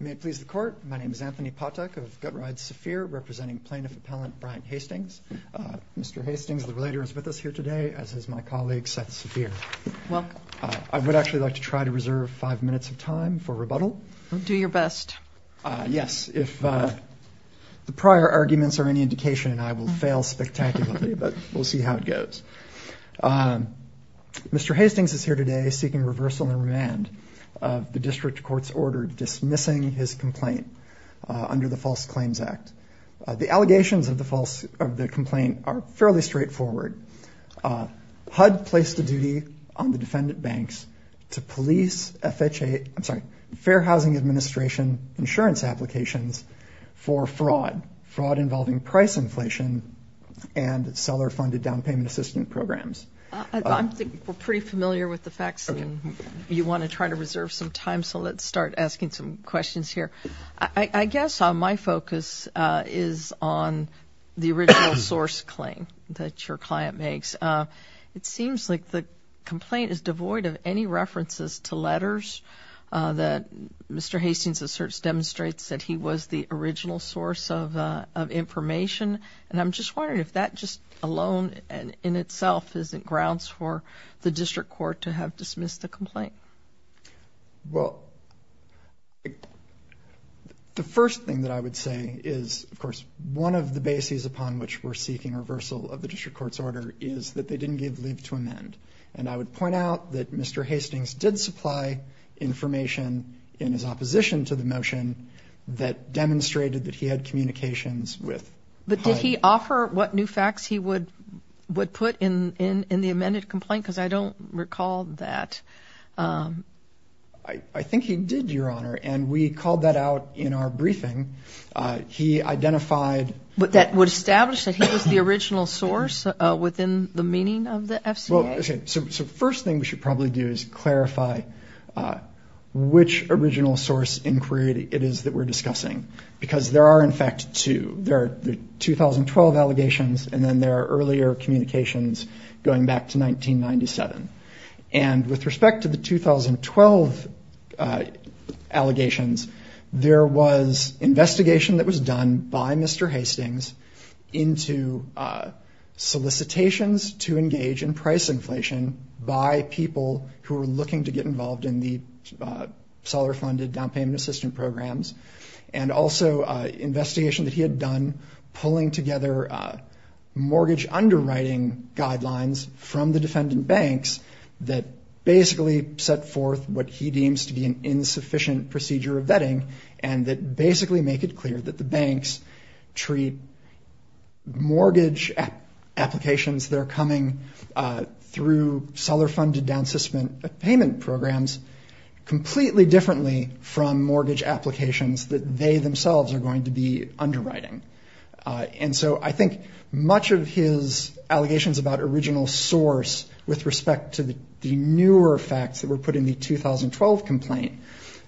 May it please the court. My name is Anthony Patek of Gut Ride Saphir, representing plaintiff appellant Brian Hastings. Mr. Hastings, the relator, is with us here today, as is my colleague, Seth Saphir. Welcome. I would actually like to try to reserve five minutes of time for rebuttal. Do your best. Yes. If the prior arguments are any indication, then I will fail spectacularly, but we'll see how it goes. Mr. Hastings is here today seeking reversal and remand of the district court's order dismissing his complaint under the False Claims Act. The allegations of the complaint are fairly straightforward. HUD placed a duty on the defendant banks to police Fair Housing Administration insurance applications for fraud, fraud involving price inflation, and seller-funded down payment assistance programs. I think we're pretty familiar with the facts, and you want to try to reserve some time, so let's start asking some questions here. I guess my focus is on the original source claim that your client makes. It seems like the complaint is devoid of any references to letters, that Mr. Hastings' asserts demonstrates that he was the original source of information, and I'm just wondering if that just alone in itself isn't grounds for the district court to have dismissed the complaint. Well, the first thing that I would say is, of course, one of the bases upon which we're seeking reversal of the district court's order is that they didn't give leave to amend, and I would point out that Mr. Hastings did supply information in his opposition to the motion that demonstrated that he had communications with HUD. But did he offer what new facts he would put in the amended complaint? Because I don't recall that. I think he did, Your Honor, and we called that out in our briefing. But that would establish that he was the original source within the meaning of the FCA? Well, okay, so the first thing we should probably do is clarify which original source inquiry it is that we're discussing, because there are, in fact, two. There are the 2012 allegations, and then there are earlier communications going back to 1997. And with respect to the 2012 allegations, there was investigation that was done by Mr. Hastings into solicitations to engage in price inflation by people who were looking to get involved in the seller-funded down payment assistant programs, and also investigation that he had done pulling together mortgage underwriting guidelines from the defendant banks that basically set forth what he deems to be an insufficient procedure of vetting and that basically make it clear that the banks treat mortgage applications that are coming through seller-funded down payment programs completely differently from mortgage applications that they themselves are going to be underwriting. And so I think much of his allegations about original source with respect to the newer facts that were put in the 2012 complaint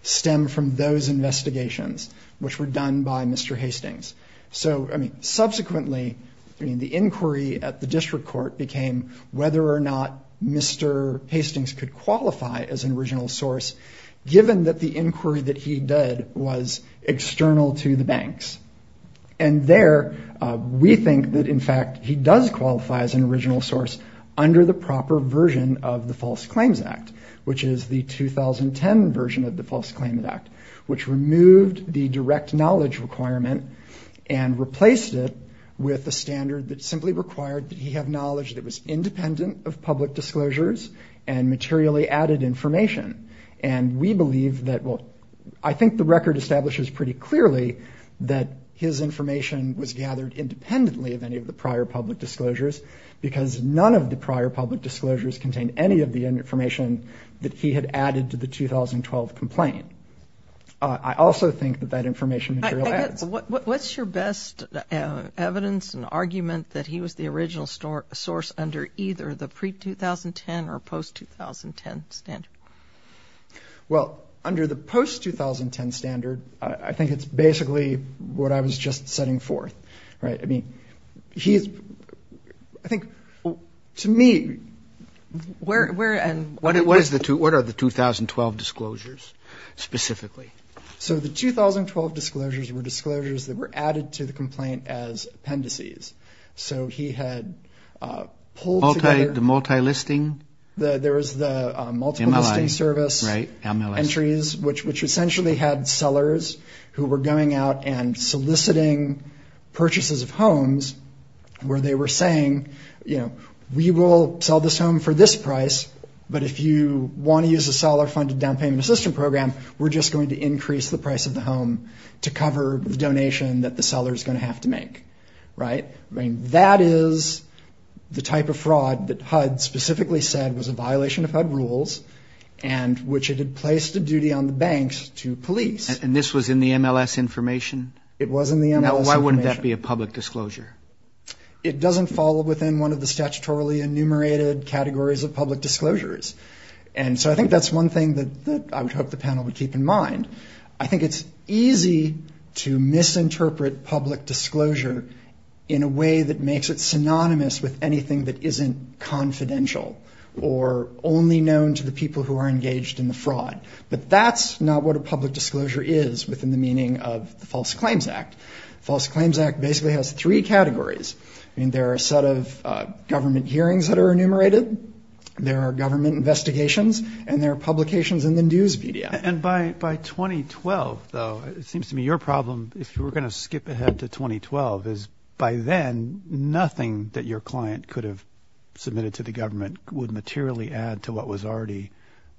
stem from those investigations, which were done by Mr. Hastings. So, I mean, subsequently, I mean, the inquiry at the district court became whether or not Mr. Hastings could qualify as an original source, given that the inquiry that he did was external to the banks. And there, we think that, in fact, he does qualify as an original source under the proper version of the False Claims Act, which is the 2010 version of the False Claims Act, which removed the direct knowledge requirement and replaced it with a standard that simply required that he have knowledge that was available to him. And we believe that, well, I think the record establishes pretty clearly that his information was gathered independently of any of the prior public disclosures, because none of the prior public disclosures contained any of the information that he had added to the 2012 complaint. I also think that that information material adds. What's your best evidence and argument that he was the original source under either the pre-2010 or post-2010 standard? Well, under the post-2010 standard, I think it's basically what I was just setting forth, right? I mean, he's, I think, to me, where and... What are the 2012 disclosures specifically? So the 2012 disclosures were disclosures that were added to the complaint as appendices. So he had pulled together... Entries, which essentially had sellers who were going out and soliciting purchases of homes where they were saying, you know, we will sell this home for this price, but if you want to use a seller-funded down payment assistance program, we're just going to increase the price of the home to cover the donation that the seller's going to have to make, right? I mean, that is the type of fraud that HUD specifically said was a violation of HUD rules, and which it had placed a duty on the banks to police. And this was in the MLS information? It was in the MLS information. Now, why wouldn't that be a public disclosure? It doesn't fall within one of the statutorily enumerated categories of public disclosures. And so I think that's one thing that I would hope the panel would keep in mind. I think it's easy to misinterpret public disclosure in a way that makes it synonymous with anything that isn't confidential, or only known to the people who are engaged in the fraud, but that's not what a public disclosure is within the meaning of the False Claims Act. The False Claims Act basically has three categories. I mean, there are a set of government hearings that are enumerated, there are government investigations, and there are publications in the news media. And by 2012, though, it seems to me your problem, if you were going to skip ahead to 2012, is by then nothing that your client could have submitted to the government would materially add to what was already...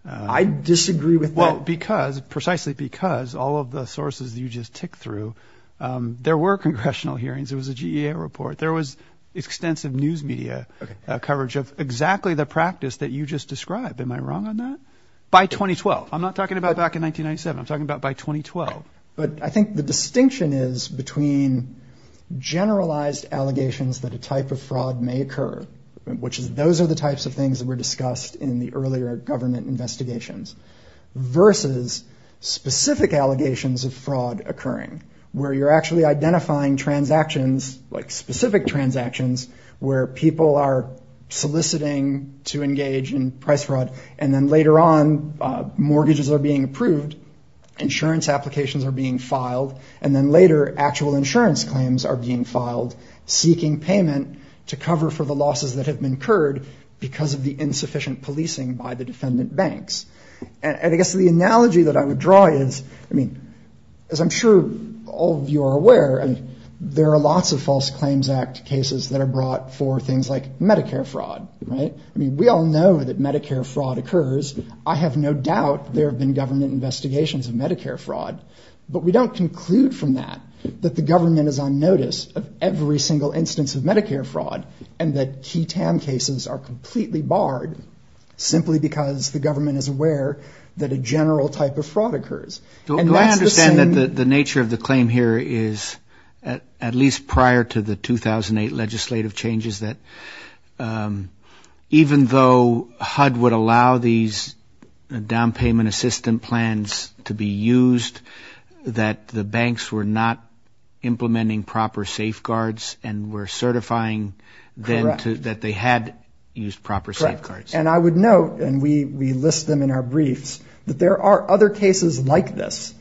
I disagree with that. Well, because, precisely because, all of the sources that you just ticked through, there were congressional hearings, there was a GEA report, there was extensive news media coverage of exactly the practice that you just described. Am I wrong on that? By 2012. I'm not talking about back in 1997. I'm talking about by 2012. But I think the distinction is between generalized allegations that a type of fraud may occur, which is those are the types of things that were discussed in the government, versus specific allegations of fraud occurring, where you're actually identifying transactions, like specific transactions, where people are soliciting to engage in price fraud, and then later on, mortgages are being approved, insurance applications are being filed, and then later, actual insurance claims are being filed, seeking payment to cover for the losses that have been incurred because of the insufficient policing by the defendant banks. And I guess the analogy that I would draw is, I mean, as I'm sure all of you are aware, there are lots of False Claims Act cases that are brought for things like Medicare fraud, right? I mean, we all know that Medicare fraud occurs. I have no doubt there have been government investigations of Medicare fraud, but we don't conclude from that that the government is on notice of every single instance of Medicare fraud, and that key TAM cases are completely barred, simply because the government is not aware that a general type of fraud occurs. And that's the same... Do I understand that the nature of the claim here is, at least prior to the 2008 legislative changes, that even though HUD would allow these down payment assistance plans to be used, that the banks were not implementing proper safeguards and were certifying then that they had used proper safeguards? And I would note, and we list them in our briefs, that there are other cases like this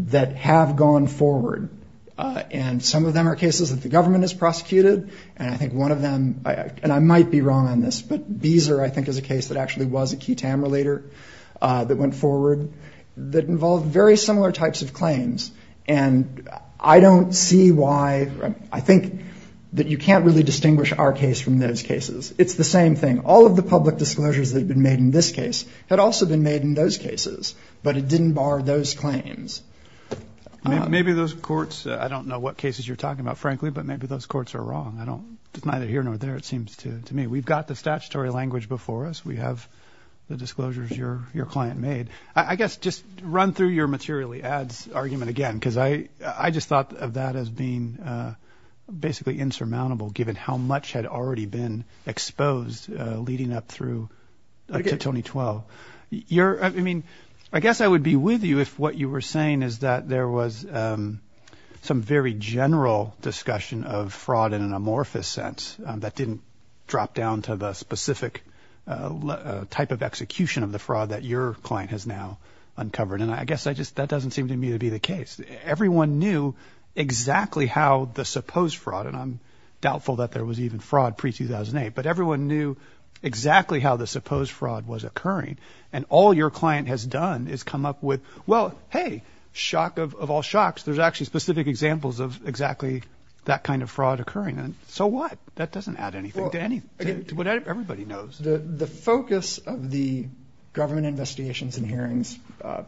that have gone forward, and some of them are cases that the government has prosecuted, and I think one of them, and I might be wrong on this, but Beezer, I think, is a case that actually was a key TAM relater that went forward that involved very similar types of claims. And I don't see why, I think that you can't really distinguish our case from those cases. It's the same thing. All of the public disclosures that have been made in this case had also been made in those cases, but it didn't bar those claims. Maybe those courts, I don't know what cases you're talking about, frankly, but maybe those courts are wrong. It's neither here nor there, it seems to me. We've got the statutory language before us. We have the disclosures your client made. I guess just run through your materially ads argument again, because I just thought of that as being basically insurmountable, given how much had already been exposed leading up through to 2012. I guess I would be with you if what you were saying is that there was some very general discussion of fraud in an amorphous sense that didn't drop down to the specific type of execution of the fraud that your client has now uncovered. And I guess that doesn't seem to me to be the case. Everyone knew exactly how the supposed fraud, and I'm doubtful that there was even fraud pre-2008, but everyone knew exactly how the supposed fraud was occurring. And all your client has done is come up with, well, hey, shock of all shocks, there's actually specific examples of exactly that kind of fraud occurring. So what? That doesn't add anything to what everybody knows. The focus of the government investigations and hearings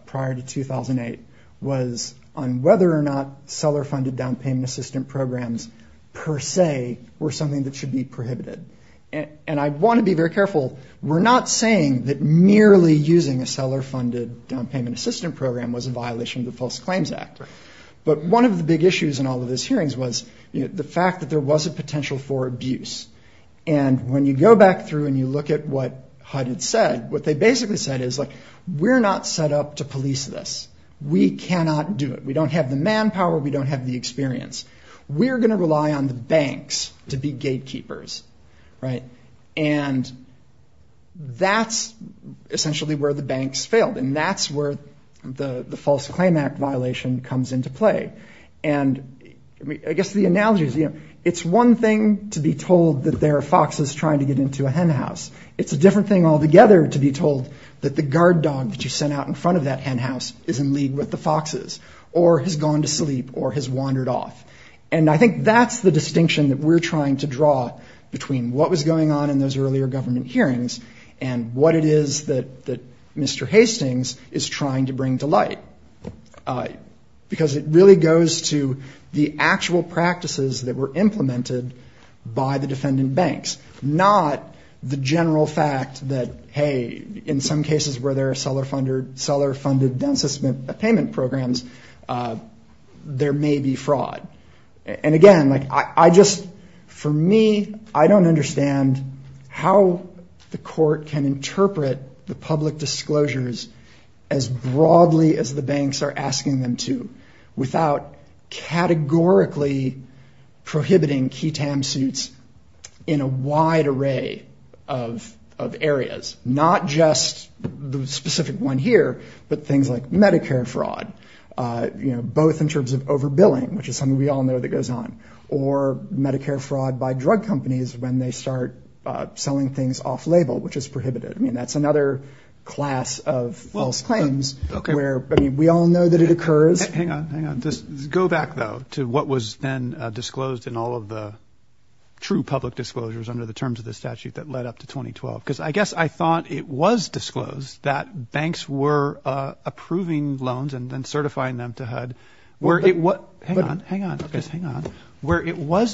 prior to 2008 was on whether or not seller-funded down payment assistant programs per se were something that should be prohibited. And I want to be very careful. We're not saying that merely using a seller-funded down payment assistant program was a violation of the False Claims Act. But one of the big issues in all of those hearings was the fact that there was a potential for abuse. And when you go back through and you look at what HUD had said, what they basically said is, look, we're not set up to police this. We cannot do it. We don't have the manpower. We don't have the experience. We're going to rely on the banks to be gatekeepers, right? And that's essentially where the banks failed, and that's where the False Claims Act violation comes into play. And I guess the analogy is, you know, it's one thing to be told that there are foxes trying to get into a henhouse. It's a different thing altogether to be told that the guard dog that you sent out in front of that henhouse is in league with the foxes or has gone to sleep or has wandered off. And I think that's the distinction that we're trying to draw between what was going on in those earlier government hearings and what it is that Mr. Hastings is trying to bring to light, because it really goes to the actual practices that were implemented. It's not the general fact that, hey, in some cases where there are seller-funded down-system payment programs, there may be fraud. And again, like, I just, for me, I don't understand how the court can interpret the public disclosures as broadly as the banks are asking them to, without categorically prohibiting key TAM suits in a wide array of areas. Not just the specific one here, but things like Medicare fraud, you know, both in terms of overbilling, which is something we all know that goes on, or Medicare fraud by drug companies when they start selling things off-label, which is prohibited. I mean, that's another class of false claims where, I mean, we all know that it occurs. Hang on, hang on. Go back, though, to what was then disclosed in all of the true public disclosures under the terms of the statute that led up to 2012. Because I guess I thought it was disclosed that banks were approving loans and then certifying them to HUD, where it was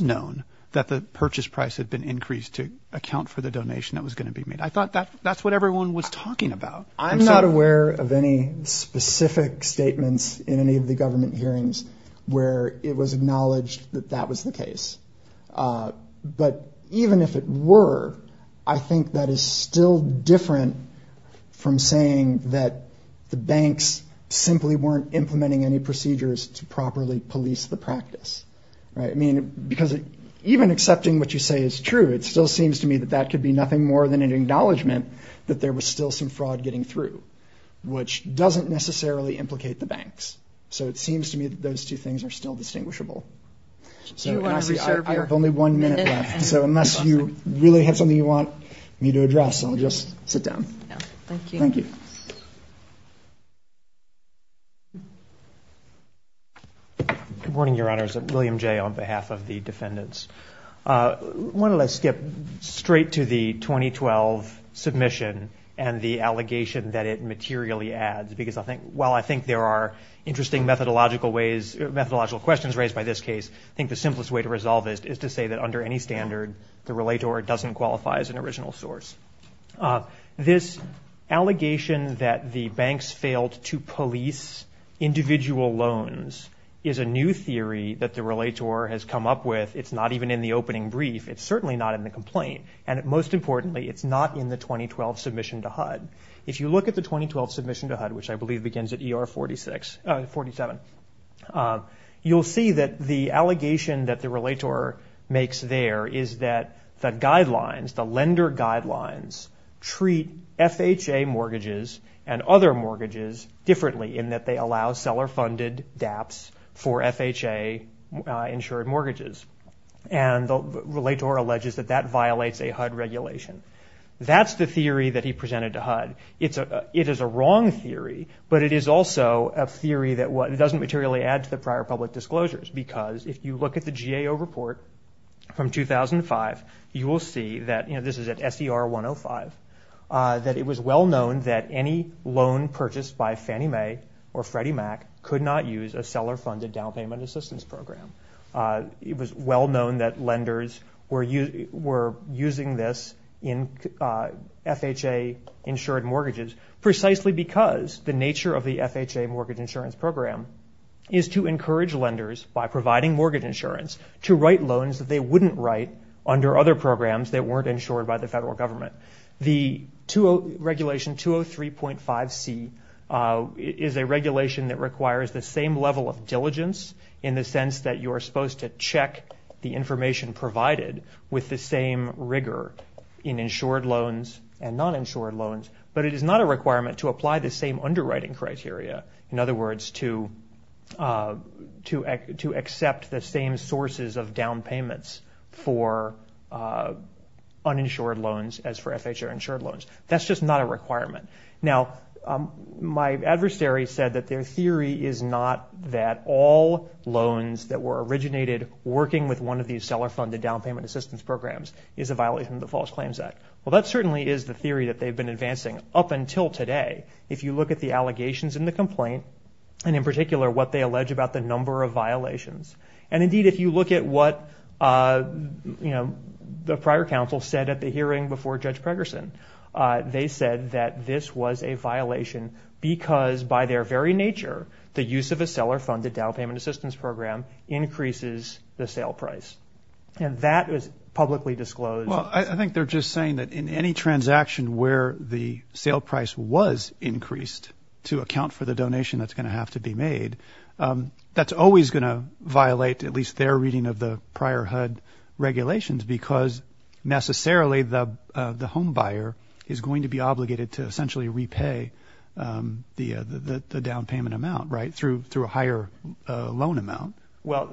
known that the purchase price had been increased to account for the donation that was going to be made. I thought that's what everyone was talking about. I'm not aware of any specific statements in any of the government hearings where it was acknowledged that that was the case. But even if it were, I think that is still different from saying that the banks simply weren't implementing any procedures to properly police the practice, right? I mean, because even accepting what you say is true, it still seems to me that that could be nothing more than an acknowledgment that there was still some fraud getting through, which doesn't necessarily implicate the banks. So it seems to me that those two things are still distinguishable. I have only one minute left. So unless you really have something you want me to address, I'll just sit down. Thank you. Good morning, Your Honors. William Jay on behalf of the defendants. I want to skip straight to the 2012 submission and the allegations that the Relator has come up with. It's not even in the opening brief. It's certainly not in the complaint. And most importantly, it's not in the 2012 submission to HUD. If you look at the 2012 submission to HUD, which I believe begins at ER 47, you'll see that the allegation that the Relator makes there is that the guidelines, the lender guidelines, treat FHA mortgages and other mortgages differently in that they allow seller-funded DAPs for FHA-insured mortgages. And the Relator alleges that that violates a HUD regulation. That's the theory that he presented to HUD. It is a wrong theory, but it is also a theory that doesn't materially add to the prior public disclosures. Because if you look at the GAO report from 2005, you will see that, you know, this is at SDR 105, that it was well known that any loan purchased by Fannie Mae or Freddie Mac could not use a seller-funded down payment assistance program. It was well known that lenders were using this in FHA-insured mortgages, precisely because the nature of the FHA mortgage insurance program is to encourage lenders, by providing mortgage insurance, to write loans that they wouldn't write under other programs that weren't insured by the federal government. The Regulation 203.5c is a regulation that requires the same level of diligence in the sense that you are supposed to charge a loan to a lender, and you are supposed to check the information provided with the same rigor in insured loans and non-insured loans. But it is not a requirement to apply the same underwriting criteria, in other words, to accept the same sources of down payments for uninsured loans as for FHA-insured loans. That's just not a requirement. Now, my adversary said that their theory is not that all loans that were originated or were purchased by Fannie Mae or Freddie Mac, working with one of these seller-funded down payment assistance programs, is a violation of the False Claims Act. Well, that certainly is the theory that they've been advancing up until today, if you look at the allegations in the complaint, and in particular, what they allege about the number of violations. And indeed, if you look at what the prior counsel said at the hearing before Judge Pregerson, they said that this was a violation because, by their very nature, the use of a seller-funded down payment assistance program increases the sale price. And that was publicly disclosed. Well, I think they're just saying that in any transaction where the sale price was increased to account for the donation that's going to have to be made, that's always going to violate at least their reading of the prior HUD regulations because necessarily the home buyer is going to be obligated to essentially repay the down payment amount, right, through a higher loan amount. Well,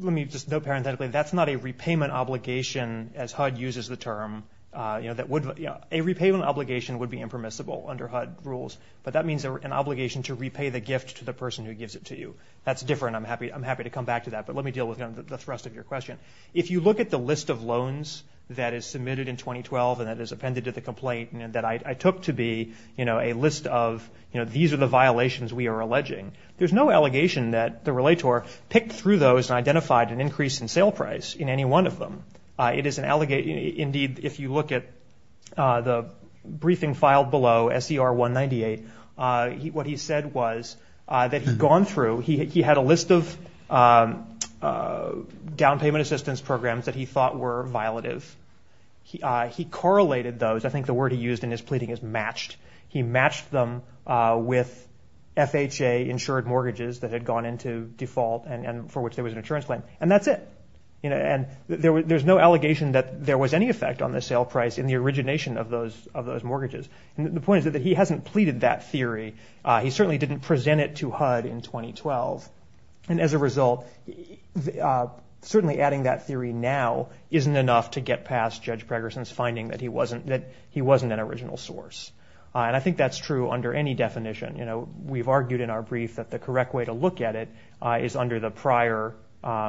let me just note parenthetically, that's not a repayment obligation as HUD uses the term. A repayment obligation would be impermissible under HUD rules, but that means an obligation to repay the gift to the person who gives it to you. That's different. I'm happy to come back to that, but let me deal with the rest of your question. If you look at the list of loans that is submitted in 2012 and that is appended to the complaint and that I took to be a list of these are the violations we are alleging, there's no allegation that the relator picked through those and identified an increase in sale price in any one of them. It is an allegation, indeed, if you look at the briefing filed below, SCR 198, what he said was that he'd gone through, he had a list of down payment assistance programs that he thought were violative. He correlated those. I think the word he used in his pleading is FHA insured mortgages that had gone into default and for which there was an insurance claim. And that's it. There's no allegation that there was any effect on the sale price in the origination of those mortgages. The point is that he hasn't pleaded that theory. He certainly didn't present it to HUD in 2012. And as a result, certainly adding that theory now isn't enough to get past Judge Pregerson's finding that he wasn't an original source. And I think that's true under any definition. If you look at the list of allegations, we've argued in our brief that the correct way to look at it is under the prior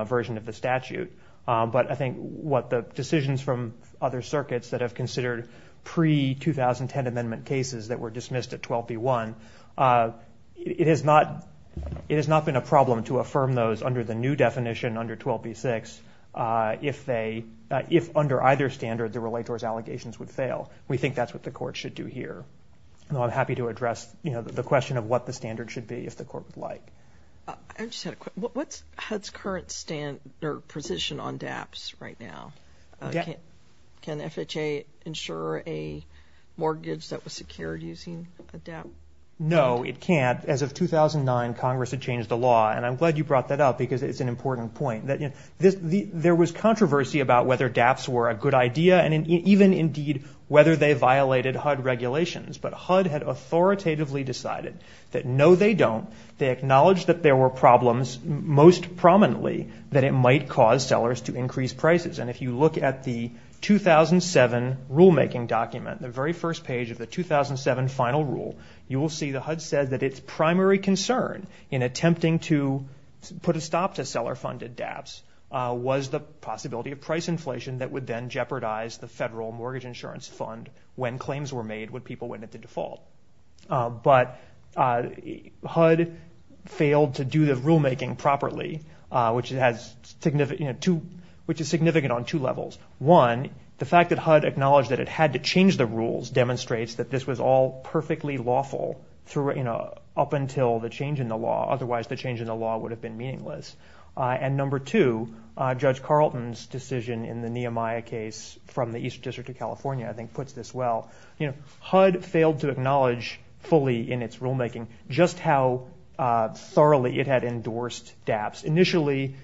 version of the statute. But I think what the decisions from other circuits that have considered pre-2010 amendment cases that were dismissed at 12b1, it has not been a problem to affirm those under the new definition under 12b6 if under either standard the relator's allegations would fail. We are happy to address the question of what the standard should be if the court would like. I just had a quick question. What's HUD's current position on DAPs right now? Can FHA insure a mortgage that was secured using a DAP? No, it can't. As of 2009, Congress had changed the law. And I'm glad you brought that up because it's an important point. There was controversy about whether DAPs were a good idea and even, indeed, whether they violated HUD regulations. But HUD had authoritatively decided that, no, they don't. They acknowledged that there were problems, most prominently that it might cause sellers to increase prices. And if you look at the 2007 rulemaking document, the very first page of the 2007 final rule, you will see that HUD said that its primary concern in attempting to put a stop to seller-funded DAPs was the possibility of price inflation that would then jeopardize the federal mortgage insurance fund when claims were made when the federal mortgage insurance fund was made. But HUD failed to do the rulemaking properly, which is significant on two levels. One, the fact that HUD acknowledged that it had to change the rules demonstrates that this was all perfectly lawful up until the change in the law. Otherwise, the change in the law would have been meaningless. And number two, Judge Carlton's decision in the Nehemiah case from the East District of California, I think, puts this well. HUD failed to acknowledge fully in its rulemaking just how thoroughly it had endorsed DAPs. Initially,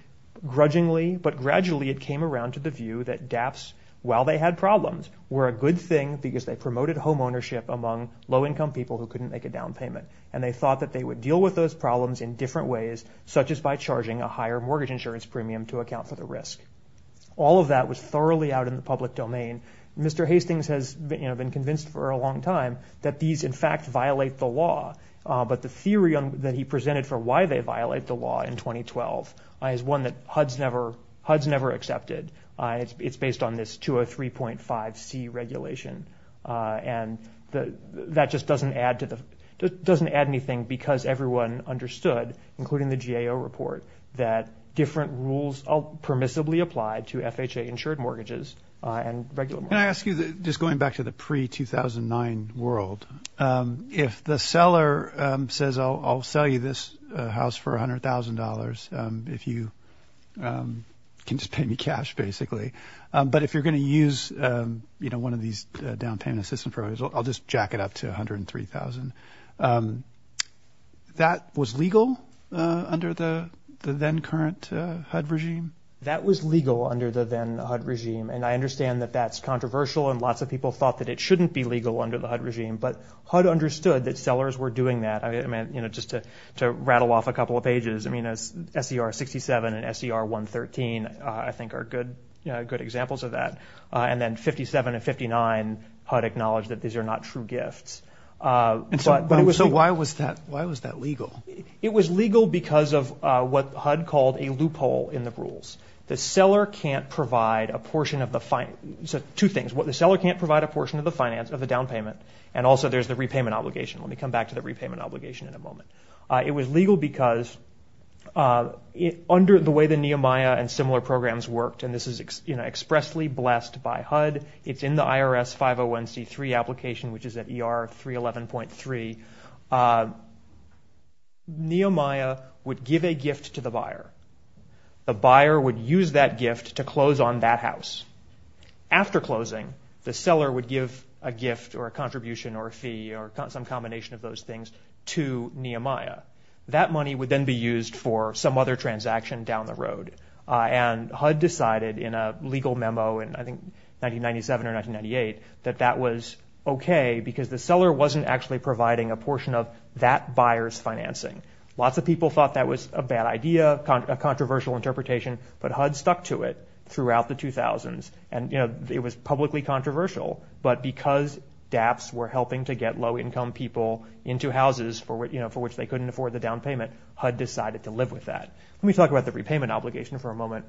grudgingly, but gradually, it came around to the view that DAPs, while they had problems, were a good thing because they promoted homeownership among low-income people who couldn't make a down payment. And they thought that they would deal with those problems in different ways, such as by charging a higher mortgage insurance premium to account for the risk. All of that was thoroughly out in the public domain. Mr. Hastings has, you know, been convinced for a long time that these, in fact, would be violations of the law. But the theory that he presented for why they violate the law in 2012 is one that HUD's never accepted. It's based on this 203.5C regulation. And that just doesn't add anything because everyone understood, including the GAO report, that different rules permissibly apply to FHA-insured mortgages and regular mortgages. Can I ask you, just going back to the pre-2009 world, if the seller says, I'll sell you this house for $100,000 if you can just pay me cash, basically, but if you're going to use, you know, one of these down payment assistance programs, I'll just jack it up to $103,000, that was legal under the then-current HUD regime? That was legal under the then-HUD regime. And I understand that that's controversial and lots of people thought that it shouldn't be legal under the HUD regime. But HUD understood that sellers were doing that. I mean, you know, just to rattle off a couple of pages, I mean, SCR-67 and SCR-113, I think, are good examples of that. And then 57 and 59, HUD acknowledged that these are not true gifts. So why was that legal? It was legal because of what HUD called a loophole in the rules. The seller can't provide a portion of the, two things, the seller can't provide a portion of the down payment, and also there's the repayment obligation. Let me come back to the repayment obligation in a moment. It was legal because under the way the Nehemiah and similar programs worked, and this is expressly blessed by HUD, it's in the IRS 501C3 application, which is at ER 311.3, the seller Nehemiah would give a gift to the buyer. The buyer would use that gift to close on that house. After closing, the seller would give a gift or a contribution or a fee or some combination of those things to Nehemiah. That money would then be used for some other transaction down the road. And HUD decided in a legal memo in, I think, 1997 or 1998, that that was okay because the seller wasn't actually providing a portion of that buyer's finances. And so that was a blessing. Lots of people thought that was a bad idea, a controversial interpretation, but HUD stuck to it throughout the 2000s. And, you know, it was publicly controversial, but because DAPs were helping to get low income people into houses for, you know, for which they couldn't afford the down payment, HUD decided to live with that. Let me talk about the repayment obligation for a moment.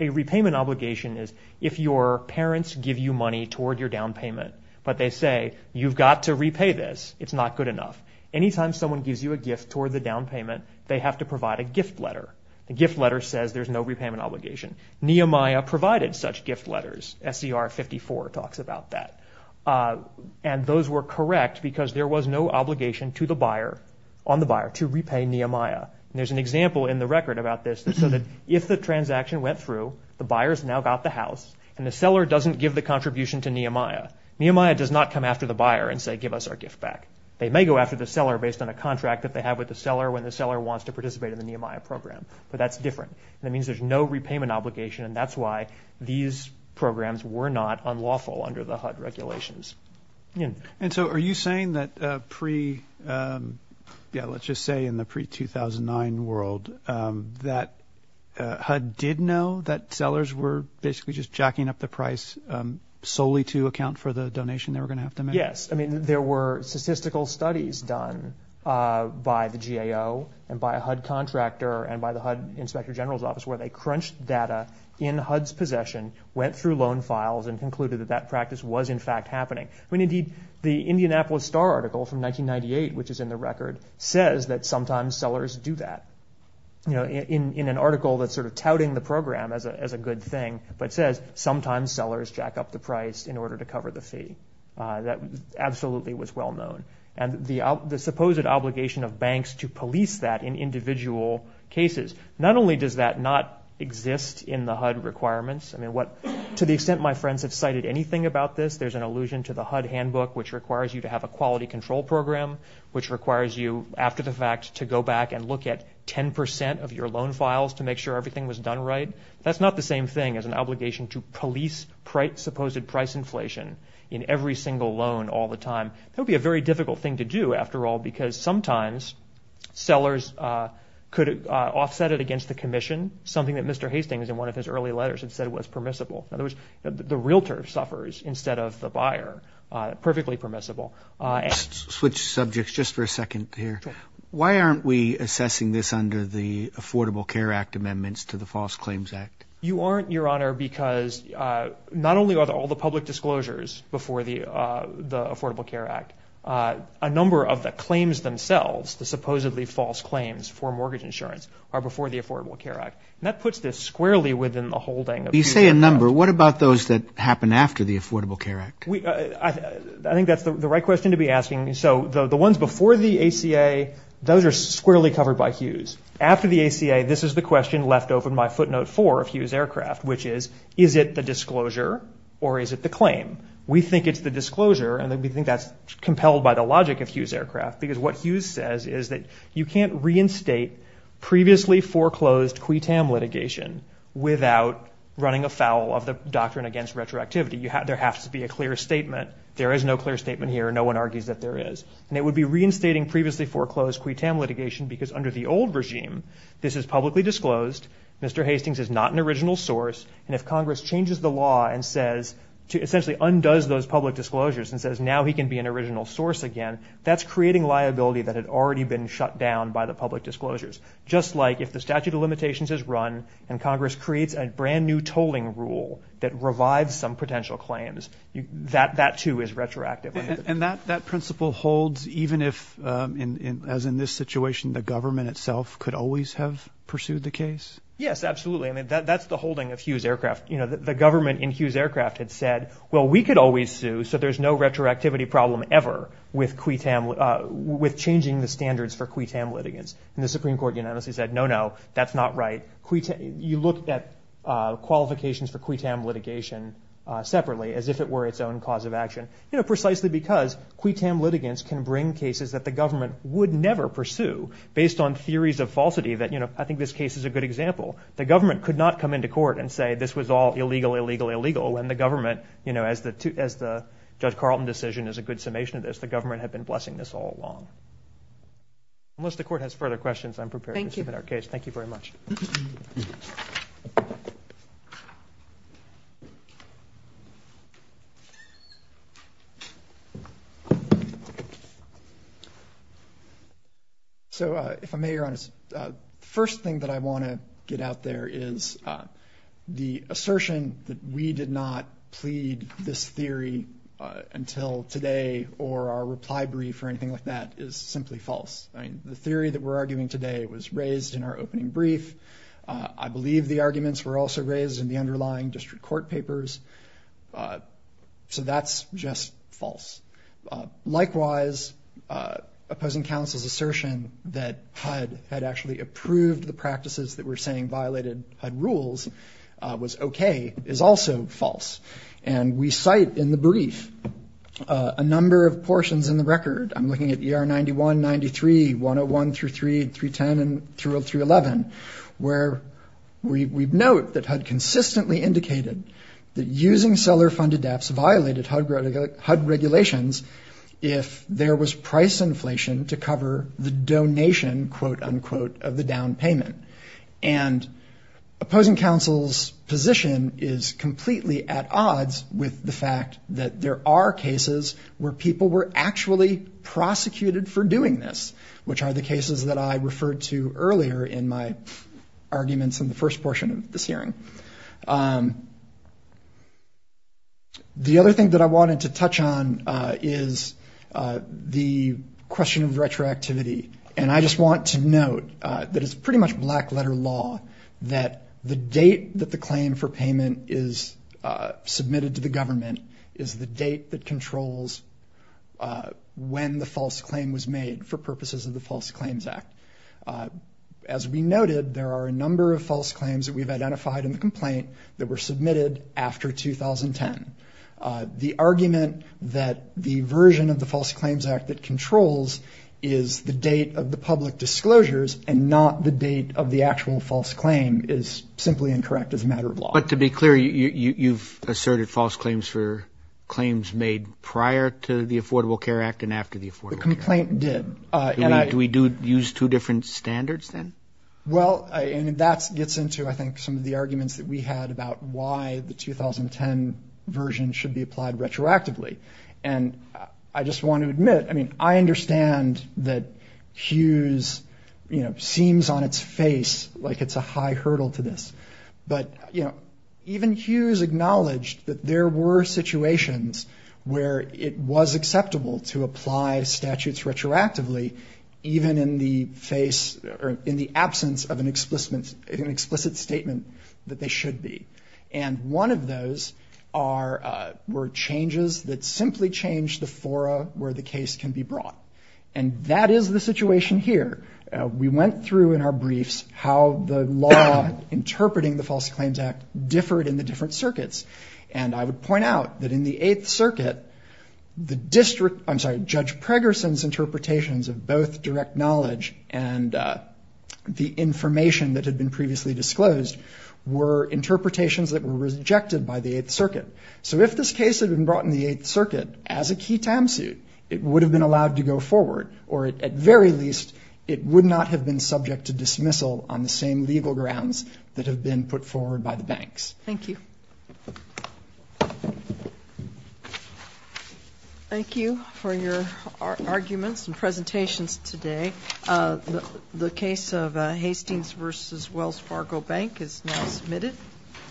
A repayment obligation is if your parents give you money toward your down payment, but they say, you've got to repay this, it's not good enough. Anytime someone gives you a gift toward the down payment, they have to provide a gift letter. A gift letter says there's no repayment obligation. Nehemiah provided such gift letters. SCR 54 talks about that. And those were correct because there was no obligation to the buyer, on the buyer, to repay Nehemiah. And there's an example in the record about this, so that if the transaction went through, the buyer's now got the house, and the seller doesn't give the contribution to Nehemiah, Nehemiah does not come after the buyer and say, give us our gift back. They may go after the seller based on a contract that they have with the seller when the seller wants to participate in the Nehemiah program, but that's different. And that means there's no repayment obligation, and that's why these programs were not unlawful under the HUD regulations. And so are you saying that pre, yeah, let's just say in the pre-2009 world, that HUD did know that sellers were basically just jacking up the price solely to account for the donation they were going to make? Yes. I mean, there were statistical studies done by the GAO and by a HUD contractor and by the HUD Inspector General's Office where they crunched data in HUD's possession, went through loan files, and concluded that that practice was in fact happening. I mean, indeed, the Indianapolis Star article from 1998, which is in the record, says that sometimes sellers do that. You know, in an article that's sort of touting the program as a good thing, but says sometimes sellers jack up the price in order to cover the fee. That absolutely was well-known. And the supposed obligation of banks to police that in individual cases, not only does that not exist in the HUD requirements, I mean, to the extent my friends have cited anything about this, there's an allusion to the HUD handbook, which requires you to have a quality control program, which requires you, after the fact, to go back and look at 10 percent of your loan files to make sure everything was done right. That's not the same thing as an obligation to police supposed price inflation in every single loan all the time. That would be a very difficult thing to do, after all, because sometimes sellers could offset it against the commission, something that Mr. Hastings, in one of his early letters, had said was permissible. In other words, the realtor suffers instead of the buyer. Perfectly permissible. Switch subjects just for a second here. Why aren't we assessing this under the Affordable Care Act amendments to the False Claims Act? You aren't, Your Honor, because not only are all the public disclosures before the Affordable Care Act, a number of the claims themselves, the supposedly false claims for mortgage insurance, are before the Affordable Care Act. And that puts this squarely within the holding of the Affordable Care Act. You say a number. What about those that happen after the Affordable Care Act? I think that's the right question to be asking. So the ones before the ACA, those are squarely covered by Hughes. After the ACA, this is the question left open by footnote four of Hughes Aircraft, which is, is it the disclosure or is it the claim? We think it's the disclosure, and we think that's compelled by the logic of Hughes Aircraft, because what Hughes says is that you can't reinstate previously foreclosed QUITAM litigation without running a foul of the doctrine against retroactivity. There has to be a clear statement. There is no clear statement here. No one argues that there is. And it would be reinstating previously foreclosed QUITAM litigation because under the old regime, this is publicly disclosed, Mr. Hastings is not an original source, and if Congress changes the law and says, essentially undoes those public disclosures and says now he can be an original source again, that's creating liability that had already been shut down by the public disclosures. Just like if the statute of limitations is run and Congress creates a brand new tolling rule that revives some potential claims, that too is retroactive. And that principle holds even if, as in this situation, the government itself can't do anything about it. Could always have pursued the case? Yes, absolutely. That's the holding of Hughes Aircraft. The government in Hughes Aircraft had said, well, we could always sue, so there's no retroactivity problem ever with changing the standards for QUITAM litigants. And the Supreme Court unanimously said, no, no, that's not right. You look at qualifications for QUITAM litigation separately as if it were its own cause of action, precisely because QUITAM litigants can bring cases that the government could not come into court and say, this was all illegal, illegal, illegal, when the government, as the Judge Carlton decision is a good summation of this, the government had been blessing this all along. Unless the court has further questions, I'm prepared to submit our case. Thank you very much. So, if I may, Your Honor, the first thing that I want to get out there is the assertion that we did not plead this theory until today or our reply brief or anything like that is simply false. I mean, the theory that we're arguing today was raised in our opening brief. I believe the arguments were also raised in the underlying district court papers. So that's just false. Likewise, opposing counsel's assertion that HUD had actually approved the practices that were saying violated HUD rules was okay is also false. And we cite in the brief a number of portions in the record. I'm looking at ER 91, 93, 101 through 310 and through 311, where we note that HUD consistently indicated that using seller funded debts violated HUD regulations if there was price inflation to cover the donation, quote unquote, of the down payment. And opposing counsel's position is completely at odds with the fact that there are cases where people were actually prosecuted for doing this, which are the cases that I referred to earlier in my arguments in the first portion of this hearing. The other thing that I wanted to touch on is the question of retroactivity. And I just want to note that it's pretty much black letter law that the date that the claim for payment is submitted to the government is the date that controls when the false claim was made for purposes of the false claim claims act. As we noted, there are a number of false claims that we've identified in the complaint that were submitted after 2010. The argument that the version of the false claims act that controls is the date of the public disclosures and not the date of the actual false claim is simply incorrect as a matter of law. But to be clear, you've asserted false claims for claims made prior to the Affordable Care Act and after the Affordable Care Act? No, the complaint did. Do we use two different standards then? Well, that gets into, I think, some of the arguments that we had about why the 2010 version should be applied retroactively. And I just want to admit, I mean, I understand that Hughes seems on its face like it's a high hurdle to this. But, you know, even Hughes acknowledged that there were situations where it was acceptable to apply statutes from the Affordable Care Act. And in fact, Hughes also acknowledges that there are some cases where statements are used retroactively even in the face or in the absence of an explicit statement that they should be. And one of those were changes that simply changed the fora where the case can be brought. And that is the situation here. We went through in our briefs how the law interpreting the false claims act differed in the different circuits. And I would point out that in the 8th circuit, the district, I'm sorry, Judge Preggerson's interpretations of both direct knowledge and the information that had been previously disclosed were interpretations that were rejected by the 8th circuit. So if this case had been brought in the 8th circuit as a key TAM suit, it would have been allowed to go forward or at very least it would not have been subject to dismissal on the same legal grounds that have been put forward by the banks. Thank you. Thank you for your arguments and presentations today. The case of Hastings v. Wells Fargo Bank is now submitted.